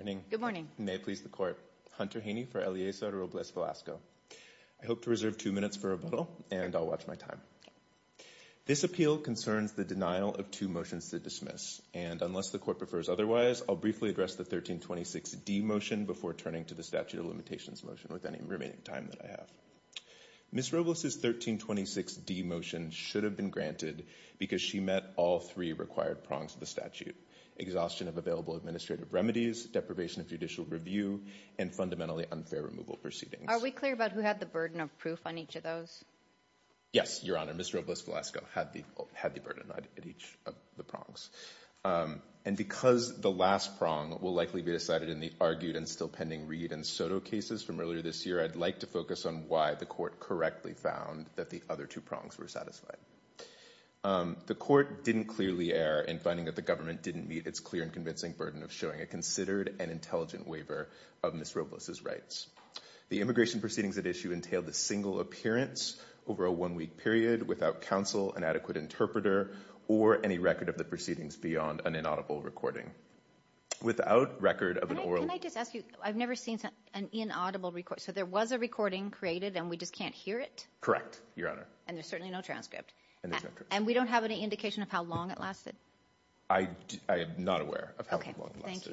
I hope to reserve two minutes for rebuttal, and I'll watch my time. This appeal concerns the denial of two motions to dismiss, and unless the Court prefers otherwise, I'll briefly address the 1326D motion before turning to the statute of limitations motion with any remaining time that I have. Ms. Robles' 1326D motion should have been granted because she met all three required prongs of the statute, exhaustion of available administrative remedies, deprivation of judicial review, and fundamentally unfair removal proceedings. Are we clear about who had the burden of proof on each of those? Yes, Your Honor, Ms. Robles-Velasco had the burden on each of the prongs. And because the last prong will likely be decided in the argued and still pending Reed and Soto cases from earlier this year, I'd like to focus on why the Court correctly found that the other two prongs were satisfied. The Court didn't clearly err in finding that the government didn't meet its clear and convincing burden of showing a considered and intelligent waiver of Ms. Robles' rights. The immigration proceedings at issue entailed a single appearance over a one-week period without counsel, an adequate interpreter, or any record of the proceedings beyond an inaudible recording. Without record of an oral... Can I just ask you, I've never seen an inaudible recording, so there was a recording created and we just can't hear it? Correct, Your Honor. And there's certainly no transcript. And we don't have any indication of how long it lasted? I am not aware of how long it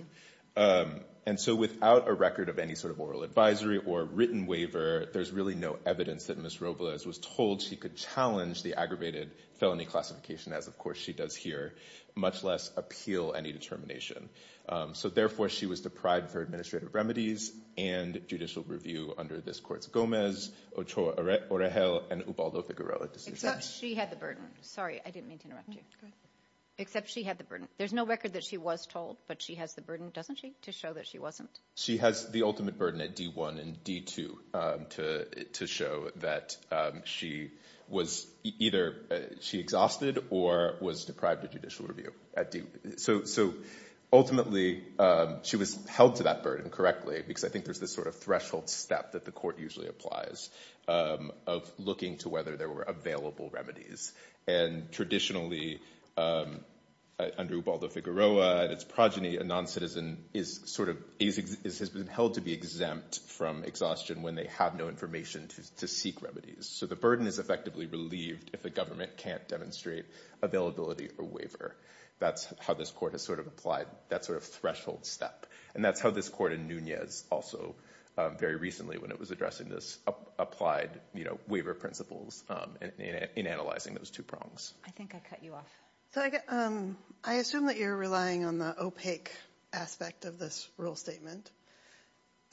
lasted. And so without a record of any sort of oral advisory or written waiver, there's really no evidence that Ms. Robles was told she could challenge the aggravated felony classification, as of course she does here, much less appeal any determination. So therefore, she was deprived of her administrative remedies and judicial review under this Court's Gomez, Ochoa-Orejel, and Ubaldo-Figueroa decisions. Except she had the burden. Sorry, I didn't mean to interrupt you. Except she had the burden. There's no record that she was told, but she has the burden, doesn't she, to show that she wasn't? She has the ultimate burden at D-1 and D-2 to show that she was either, she exhausted or was deprived of judicial review at D. So ultimately, she was held to that burden correctly because I think there's this sort of threshold step that the Court usually applies of looking to whether there were available remedies. And traditionally, under Ubaldo-Figueroa and its progeny, a non-citizen has been held to be exempt from exhaustion when they have no information to seek remedies. So the burden is effectively relieved if the government can't demonstrate availability or waiver. That's how this Court has sort of applied that sort of threshold step. And that's how this Court in Nunez also, very recently when it was addressing this, applied waiver principles in analyzing those two prongs. I think I cut you off. I assume that you're relying on the opaque aspect of this rule statement.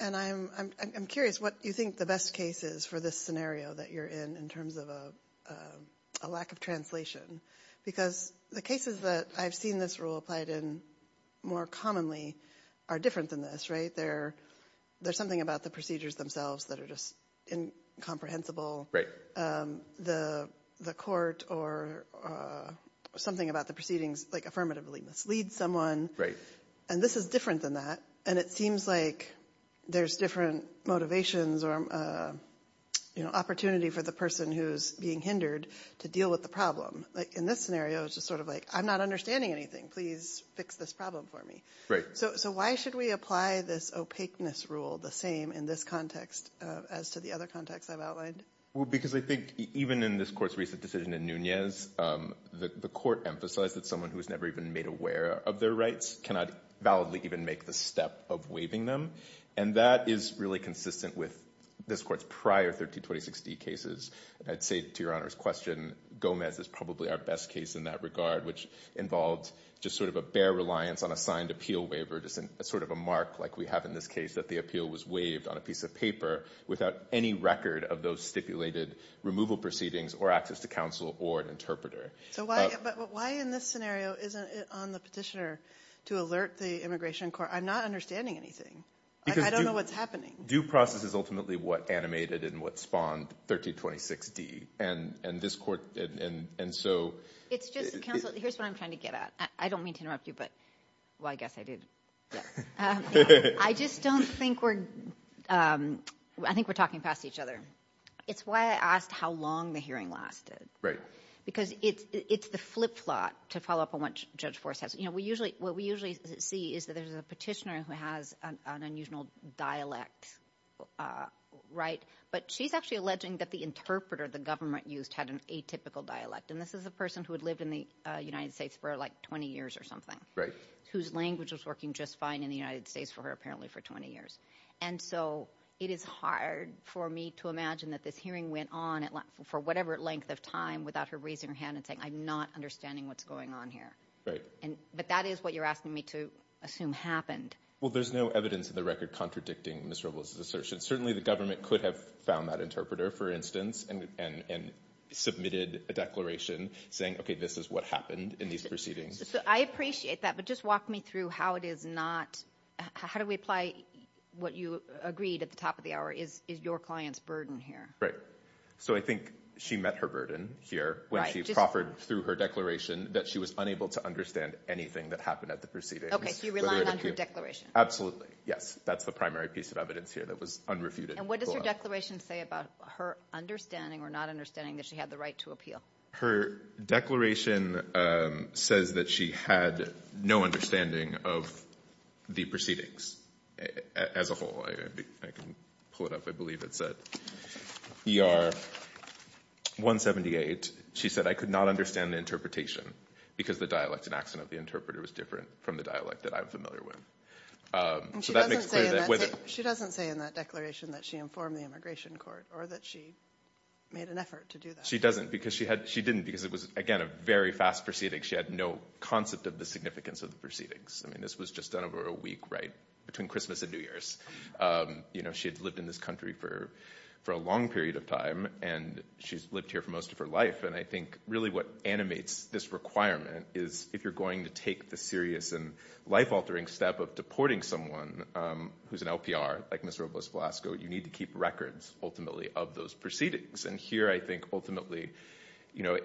And I'm curious what you think the best case is for this scenario that you're in in terms of a lack of translation because the cases that I've seen this rule applied in more commonly are different than this, right? Where there's something about the procedures themselves that are just incomprehensible. The Court or something about the proceedings like affirmatively mislead someone. And this is different than that. And it seems like there's different motivations or opportunity for the person who's being hindered to deal with the problem. In this scenario, it's just sort of like, I'm not understanding anything. Please fix this problem for me. So why should we apply this opaqueness rule the same in this context as to the other context I've outlined? Well, because I think even in this Court's recent decision in Nunez, the Court emphasized that someone who was never even made aware of their rights cannot validly even make the step of waiving them. And that is really consistent with this Court's prior 1320-16 cases. I'd say to Your Honor's question, Gomez is probably our best case in that regard, which involved just sort of a bare reliance on a signed appeal waiver, just sort of a mark like we have in this case that the appeal was waived on a piece of paper without any record of those stipulated removal proceedings or access to counsel or an interpreter. So why in this scenario isn't it on the petitioner to alert the Immigration Court? I'm not understanding anything. I don't know what's happening. Because due process is ultimately what animated and what spawned 1320-6d. And this Court, and so... It's just, counsel, here's what I'm trying to get at. I don't mean to interrupt you, but... Well, I guess I did. I just don't think we're... I think we're talking past each other. It's why I asked how long the hearing lasted. Because it's the flip-flop to follow up on what Judge Forrest has... What we usually see is that there's a petitioner who has an unusual dialect, right? But she's actually alleging that the interpreter the government used had an atypical dialect. And this is a person who had lived in the United States for, like, 20 years or something. Right. Whose language was working just fine in the United States for her, apparently for 20 years. And so it is hard for me to imagine that this hearing went on for whatever length of time without her raising her hand and saying, I'm not understanding what's going on here. Right. But that is what you're asking me to assume happened. Well, there's no evidence in the record contradicting Ms. Rubel's assertion. Certainly the government could have found that interpreter, for instance, and submitted a declaration saying, okay, this is what happened in these proceedings. I appreciate that. But just walk me through how it is not... How do we apply what you agreed at the top of the hour? Is your client's burden here? Right. So I think she met her burden here when she proffered through her declaration that she was unable to understand anything that happened at the proceedings. Okay. So you're relying on her declaration. Absolutely. Yes. That's the primary piece of evidence here that was unrefuted. And what does her declaration say about her understanding or not understanding that she had the right to appeal? Her declaration says that she had no understanding of the proceedings as a whole. I can pull it up. I believe it's at ER 178. She said, I could not understand the interpretation because the dialect and accent of the interpreter was different from the dialect that I'm familiar with. She doesn't say in that declaration that she informed the immigration court or that she made an effort to do that. She doesn't because she didn't because it was, again, a very fast proceeding. She had no concept of the significance of the proceedings. I mean, this was just done over a week, right, between Christmas and New Year's. You know, she had lived in this country for a long period of time and she's lived here for most of her life. And I think really what animates this requirement is if you're going to take the serious and life-altering step of deporting someone who's an LPR, like Ms. Robles-Velasco, you need to keep records, ultimately, of those proceedings. And here, I think, ultimately, you know,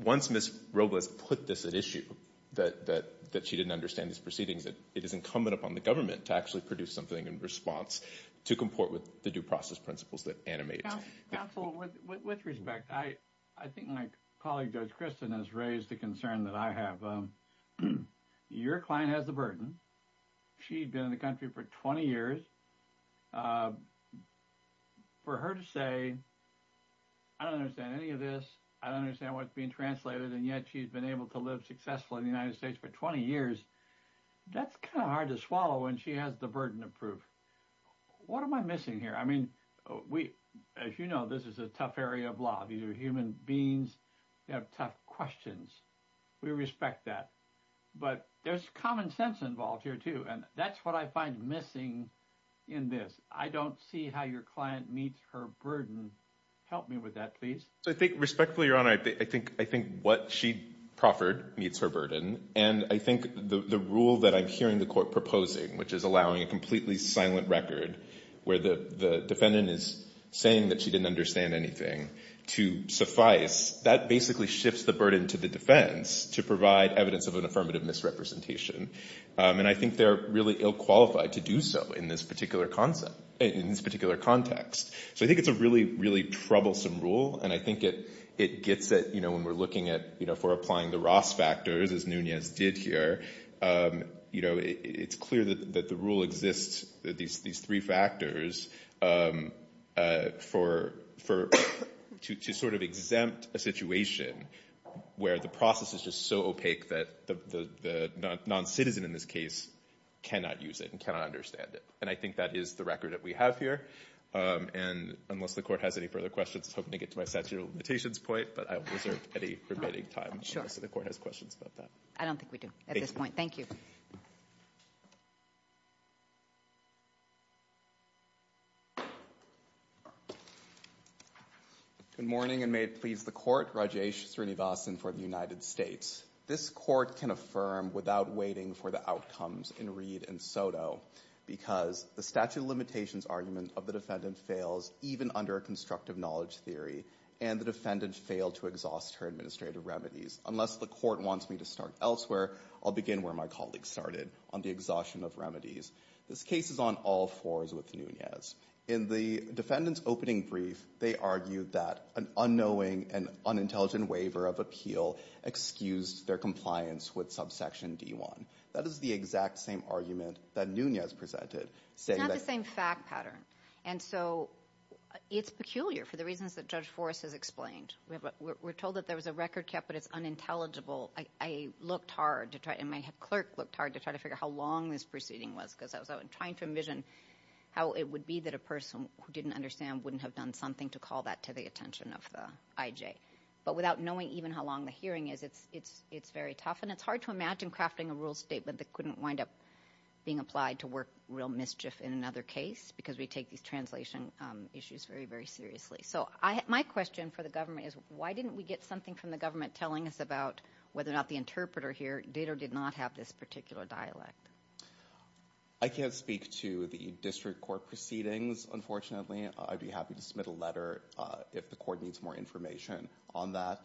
once Ms. Robles put this at issue, that she didn't understand these proceedings, it is incumbent upon the government to actually produce something in response to comport with the due process principles that animate. Counsel, with respect, I think my colleague, Judge Kristen, has raised the concern that I have. Your client has the burden. She'd been in the country for 20 years. For her to say, I don't understand any of this, I don't understand what's being translated, and yet she's been able to live successfully in the United States for 20 years, that's kind of hard to swallow when she has the burden of proof. What am I missing here? I mean, we, as you know, this is a tough area of law. These are human beings who have tough questions. We respect that. But there's common sense involved here too. And that's what I find missing in this. I don't see how your client meets her burden. Help me with that, please. So I think, respectfully, Your Honor, I think what she proffered meets her burden. And I think the rule that I'm hearing the court proposing, which is allowing a completely silent record where the defendant is saying that she didn't understand anything, to suffice, that basically shifts the burden to the defense to provide evidence of an affirmative misrepresentation. And I think they're really ill-qualified to do so in this particular context. So I think it's a really, really troublesome rule. And I think it gets it, you know, when we're looking at, you know, if we're applying the Ross factors, as Nunez did here, you know, it's clear that the rule exists, these three factors for, to sort of exempt a situation where the process is just so opaque that the non-citizen in this case cannot use it and cannot understand it. And I think that is the record that we have here. And unless the court has any further questions, I'm hoping to get to my statute of limitations point, but I will reserve any remaining time. So the court has questions about that. I don't think we do at this point. Thank you. Good morning, and may it please the court, Rajesh Srinivasan for the United States. This court can affirm without waiting for the outcomes in Reed and Soto, because the statute of limitations argument of the defendant fails even under a constructive knowledge theory, and the defendant failed to exhaust her administrative remedies. Unless the court wants me to start elsewhere, I'll begin where my colleague started, on the exhaustion of remedies. This case is on all fours with Nunez. In the defendant's opening brief, they argued that an unknowing and unintelligent waiver of appeal excused their compliance with subsection D-1. That is the exact same argument that Nunez presented, saying that- It's not the same fact pattern. And so it's peculiar for the reasons that Judge Forrest has explained. We're told that there was a record kept, but it's unintelligible. I looked hard to try, and my clerk looked hard to try to figure out how long this proceeding was, because I was trying to envision how it would be that a person who didn't understand wouldn't have done something to call that to the attention of the IJ. But without knowing even how long the hearing is, it's very tough, and it's hard to imagine crafting a rule statement that couldn't wind up being applied to work real mischief in another case, because we take these translation issues very, very seriously. So my question for the government is, why didn't we get something from the government telling us about whether or not the interpreter here did or did not have this particular dialect? I can't speak to the district court proceedings, unfortunately. I'd be happy to submit a letter if the court needs more information on that.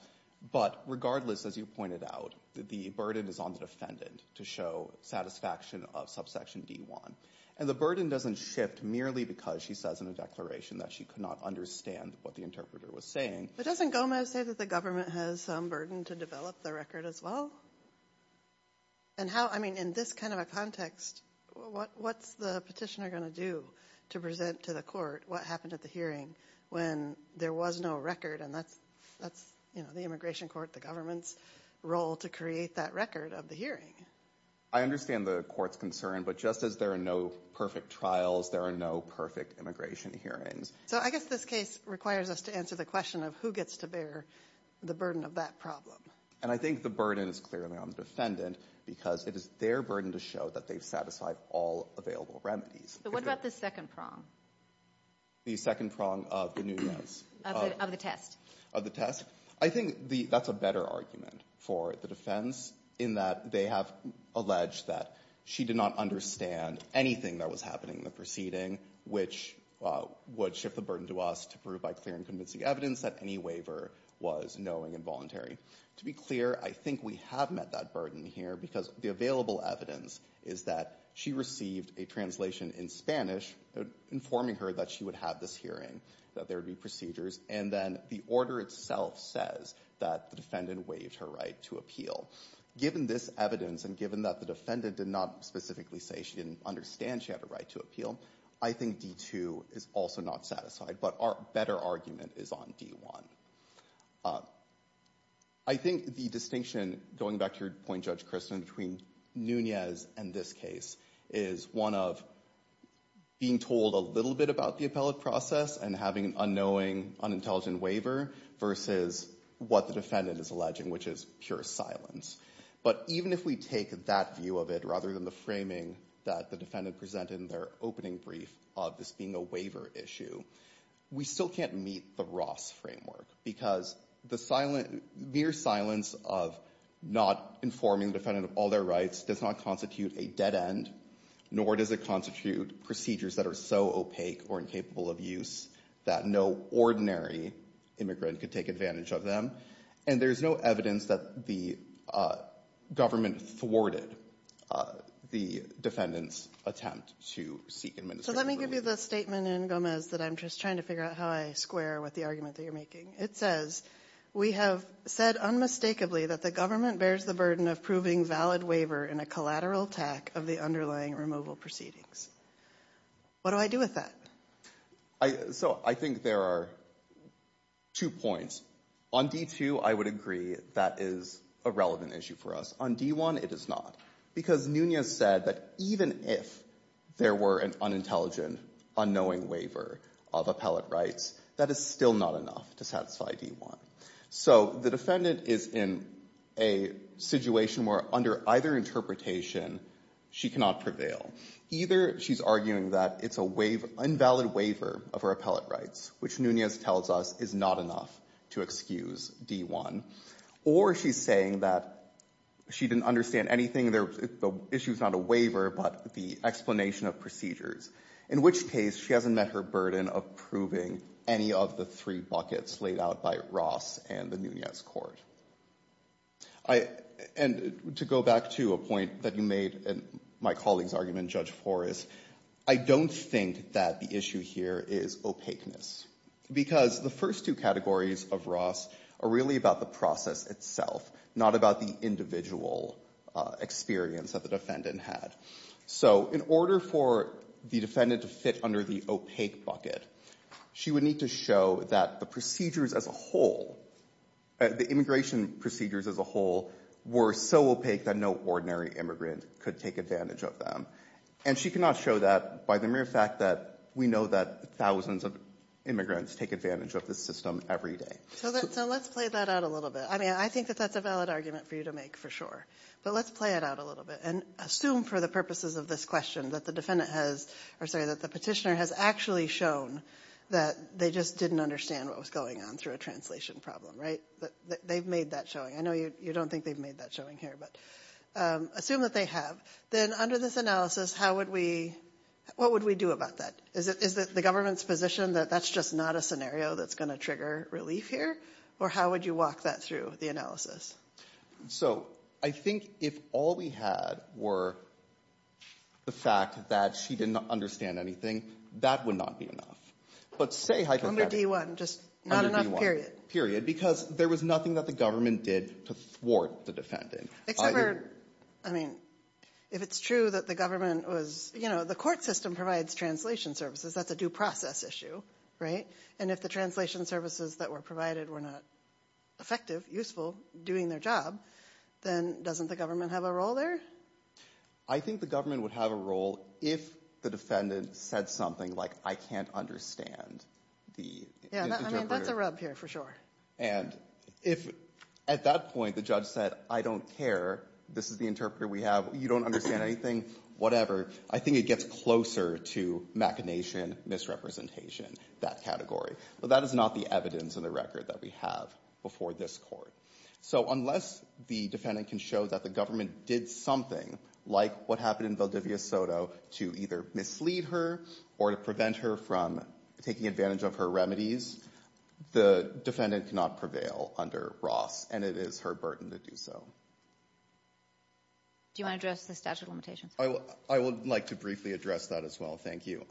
But regardless, as you pointed out, the burden is on the defendant to show satisfaction of subsection D1. And the burden doesn't shift merely because she says in a declaration that she could not understand what the interpreter was saying. But doesn't Gomez say that the government has some burden to develop the record as well? And how, I mean, in this kind of a context, what's the petitioner going to do to present to the court what happened at the hearing when there was no record? And that's the immigration court, the government's role to create that record of the hearing. I understand the court's concern. But just as there are no perfect trials, there are no perfect immigration hearings. So I guess this case requires us to answer the question of who gets to bear the burden of that problem. And I think the burden is clearly on the defendant, because it is their burden to show that they've satisfied all available remedies. But what about the second prong? The second prong of the new yes. Of the test. Of the test. I think that's a better argument for the defense, in that they have alleged that she did not understand anything that was happening in the proceeding, which would shift the burden to us to prove by clear and convincing evidence that any waiver was knowing and voluntary. To be clear, I think we have met that burden here, because the available evidence is that she received a translation in Spanish, informing her that she would have this hearing, that there would be procedures, and then the order itself says that the defendant waived her right to appeal. Given this evidence, and given that the defendant did not specifically say she didn't understand she had a right to appeal, I think D2 is also not satisfied. But our better argument is on D1. I think the distinction, going back to your point, Judge Christin, between Nunez and this case, is one of being told a little bit about the appellate process and having an unknowing, unintelligent waiver, versus what the defendant is alleging, which is pure silence. But even if we take that view of it, rather than the framing that the defendant presented in their opening brief of this being a waiver issue, we still can't meet the Ross framework. Because the mere silence of not informing the defendant of all their rights does not constitute a dead end, nor does it constitute procedures that are so opaque or incapable of use that no ordinary immigrant could take advantage of them. And there's no evidence that the government thwarted the defendant's attempt to seek administrative relief. So let me give you the statement in Gomez that I'm just trying to figure out how I square with the argument that you're making. It says, we have said unmistakably that the government bears the burden of proving valid waiver in a collateral attack of the underlying removal proceedings. What do I do with that? So I think there are two points. On D2, I would agree that is a relevant issue for us. On D1, it is not. Because Nunez said that even if there were an unintelligent, unknowing waiver of appellate rights, that is still not enough to satisfy D1. So the defendant is in a situation where under either interpretation, she cannot prevail. Either she's arguing that it's an invalid waiver of her appellate rights, which Nunez tells us is not enough to excuse D1. Or she's saying that she didn't understand anything, the issue is not a waiver, but the explanation of procedures. In which case, she hasn't met her burden of proving any of the three buckets laid out by Ross and the Nunez court. And to go back to a point that you made in my colleague's argument, Judge Flores, I don't think that the issue here is opaqueness. Because the first two categories of Ross are really about the process itself, not about the individual experience that the defendant had. So in order for the defendant to fit under the opaque bucket, she would need to show that the procedures as a whole, the immigration procedures as a whole, were so opaque that no ordinary immigrant could take advantage of them. And she cannot show that by the mere fact that we know that thousands of immigrants take advantage of this system every day. So let's play that out a little bit. I mean, I think that that's a valid argument for you to make, for sure. But let's play it out a little bit. And assume for the purposes of this question that the petitioner has actually shown that they just didn't understand what was going on through a translation problem, right? They've made that showing. I know you don't think they've made that showing here, but assume that they have. Then under this analysis, what would we do about that? Is it the government's position that that's just not a scenario that's going to trigger relief here? Or how would you walk that through the analysis? So I think if all we had were the fact that she didn't understand anything, that would not be enough. But say hypothetically... Under D-1, just not enough, period. Period. Because there was nothing that the government did to thwart the defendant. Except for, I mean, if it's true that the government was, you know, the court system provides translation services, that's a due process issue, right? And if the translation services that were provided were not effective, useful, doing their job, then doesn't the government have a role there? I think the government would have a role if the defendant said something like, I can't understand the interpreter. Yeah, I mean, that's a rub here, for sure. And if at that point the judge said, I don't care, this is the interpreter we have, you don't understand anything, whatever, I think it gets closer to machination, misrepresentation, that category. But that is not the evidence in the record that we have before this court. So unless the defendant can show that the government did something, like what happened in Valdivia-Soto, to either mislead her or to prevent her from taking advantage of her remedies, the defendant cannot prevail under Ross. And it is her burden to do so. Do you want to address the statute of limitations? I would like to briefly address that as well, thank you.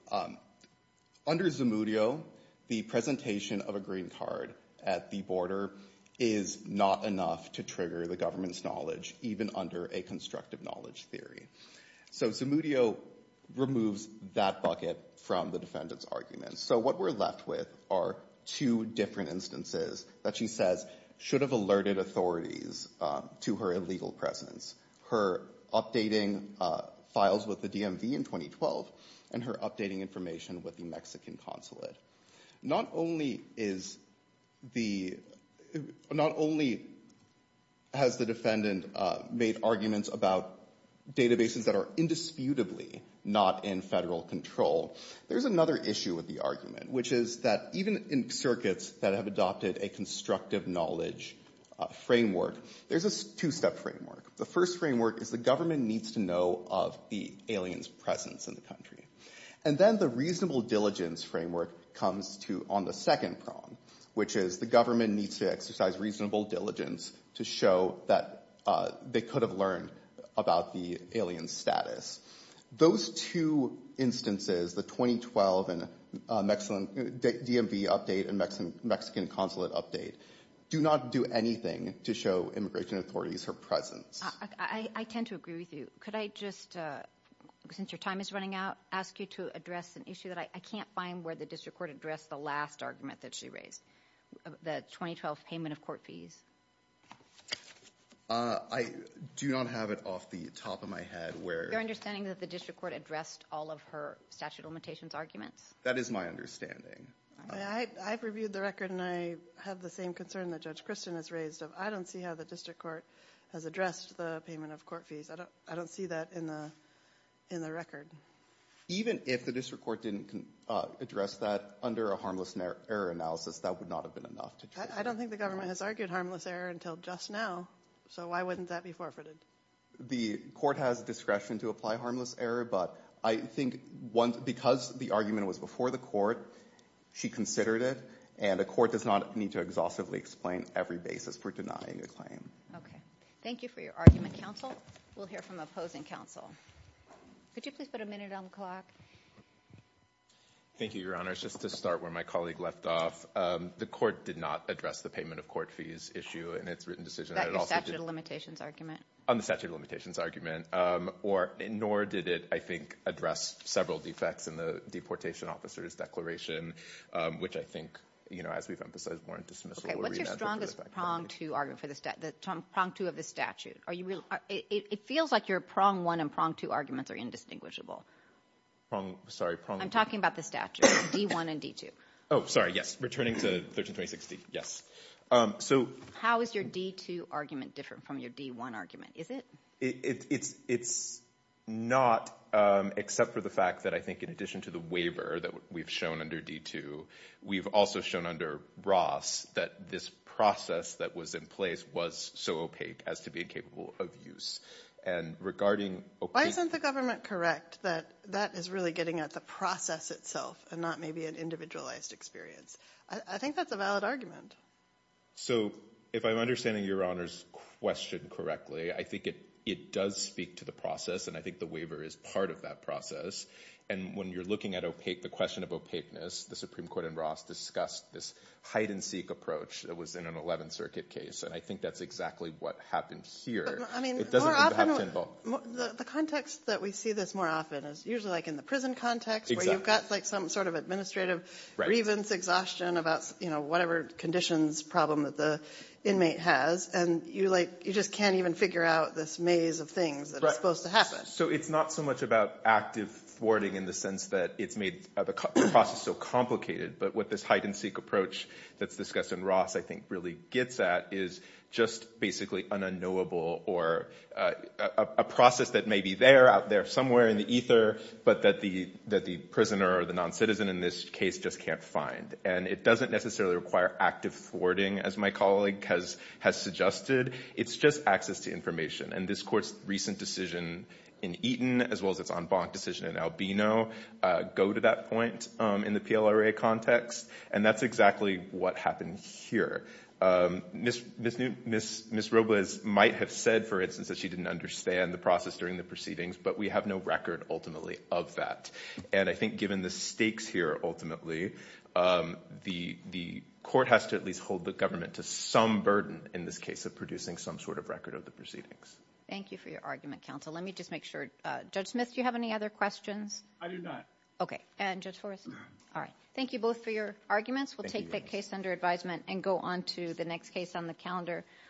Under Zamudio, the presentation of a green card at the border is not enough to trigger the government's knowledge, even under a constructive knowledge theory. So Zamudio removes that bucket from the defendant's argument. So what we're left with are two different instances that she says should have alerted authorities to her illegal presence. Her updating files with the DMV in 2012, and her updating information with the Mexican consulate. Not only has the defendant made arguments about databases that are indisputably not in federal control, there's another issue with the argument, which is that even in circuits that have adopted a constructive knowledge framework, there's a two-step framework. The first framework is the government needs to know of the alien's presence in the country. And then the reasonable diligence framework comes on the second prong, which is the government needs to exercise reasonable diligence to show that they could have learned about the alien's status. Those two instances, the 2012 DMV update and Mexican consulate update, do not do anything to show immigration authorities her presence. I tend to agree with you. Could I just, since your time is running out, ask you to address an issue that I can't find where the district court addressed the last argument that she raised, the 2012 payment of court fees. I do not have it off the top of my head where... Your understanding is that the district court addressed all of her statute of limitations arguments? That is my understanding. I've reviewed the record and I have the same concern that Judge Christin has raised. I don't see how the district court has addressed the payment of court fees. I don't see that in the record. Even if the district court didn't address that under a harmless error analysis, that would not have been enough. I don't think the government has argued harmless error until just now. So why wouldn't that be forfeited? The court has discretion to apply harmless error, but I think because the argument was before the court, she considered it, and a court does not need to exhaustively explain every basis for denying a claim. Thank you for your argument, counsel. We'll hear from opposing counsel. Could you please put a minute on the clock? Thank you, Your Honor. Just to start where my colleague left off, the court did not address the payment of court fees issue in its written decision. That your statute of limitations argument? On the statute of limitations argument, nor did it, I think, address several defects in the deportation officer's declaration, which I think, you know, as we've emphasized warrant dismissal. What's your strongest prong two argument for the statute? It feels like your prong one and prong two arguments are indistinguishable. I'm talking about the statute, D1 and D2. Oh, sorry. Yes. Returning to 1326D. Yes. How is your D2 argument different from your D1 argument? Is it? It's not, except for the fact that I think in addition to the waiver that we've shown under D2, we've also shown under Ross that this process that was in place was so opaque as to be incapable of use. And regarding... Why isn't the government correct that that is really getting at the process itself and not maybe an individualized experience? I think that's a valid argument. So if I'm understanding your Honor's question correctly, I think it does speak to the process and I think the waiver is part of that process. And when you're looking at opaque, the question of opaqueness, the Supreme Court and Ross discussed this hide and seek approach that was in an 11th Circuit case. And I think that's exactly what happened here. I mean, the context that we see this more often is usually like in the prison context where you've got like some sort of administrative grievance exhaustion about, you know, whatever conditions problem that the inmate has and you just can't even figure out this maze of things that are supposed to happen. So it's not so much about active thwarting in the sense that it's made the process so complicated but what this hide and seek approach that's discussed in Ross, I think, really gets at is just basically an unknowable or a process that may be there, out there somewhere in the ether, but that the prisoner or the non-citizen in this case just can't find. And it doesn't necessarily require active thwarting as my colleague has suggested. It's just access to information. And this Court's recent decision in Eaton as well as its en banc decision in Albino go to that point in the PLRA context. And that's exactly what happened here. Ms. Robles might have said, for instance, that she didn't understand the process during the proceedings but we have no record ultimately of that. And I think given the stakes here, ultimately, the Court has to at least hold the government to some burden in this case of producing some sort of record of the proceedings. Thank you for your argument, counsel. Let me just make sure. Judge Smith, do you have any other questions? I do not. Okay. And Judge Forrest? All right. Thank you both for your arguments. We'll take the case under advisement and go on to the next case on the calendar.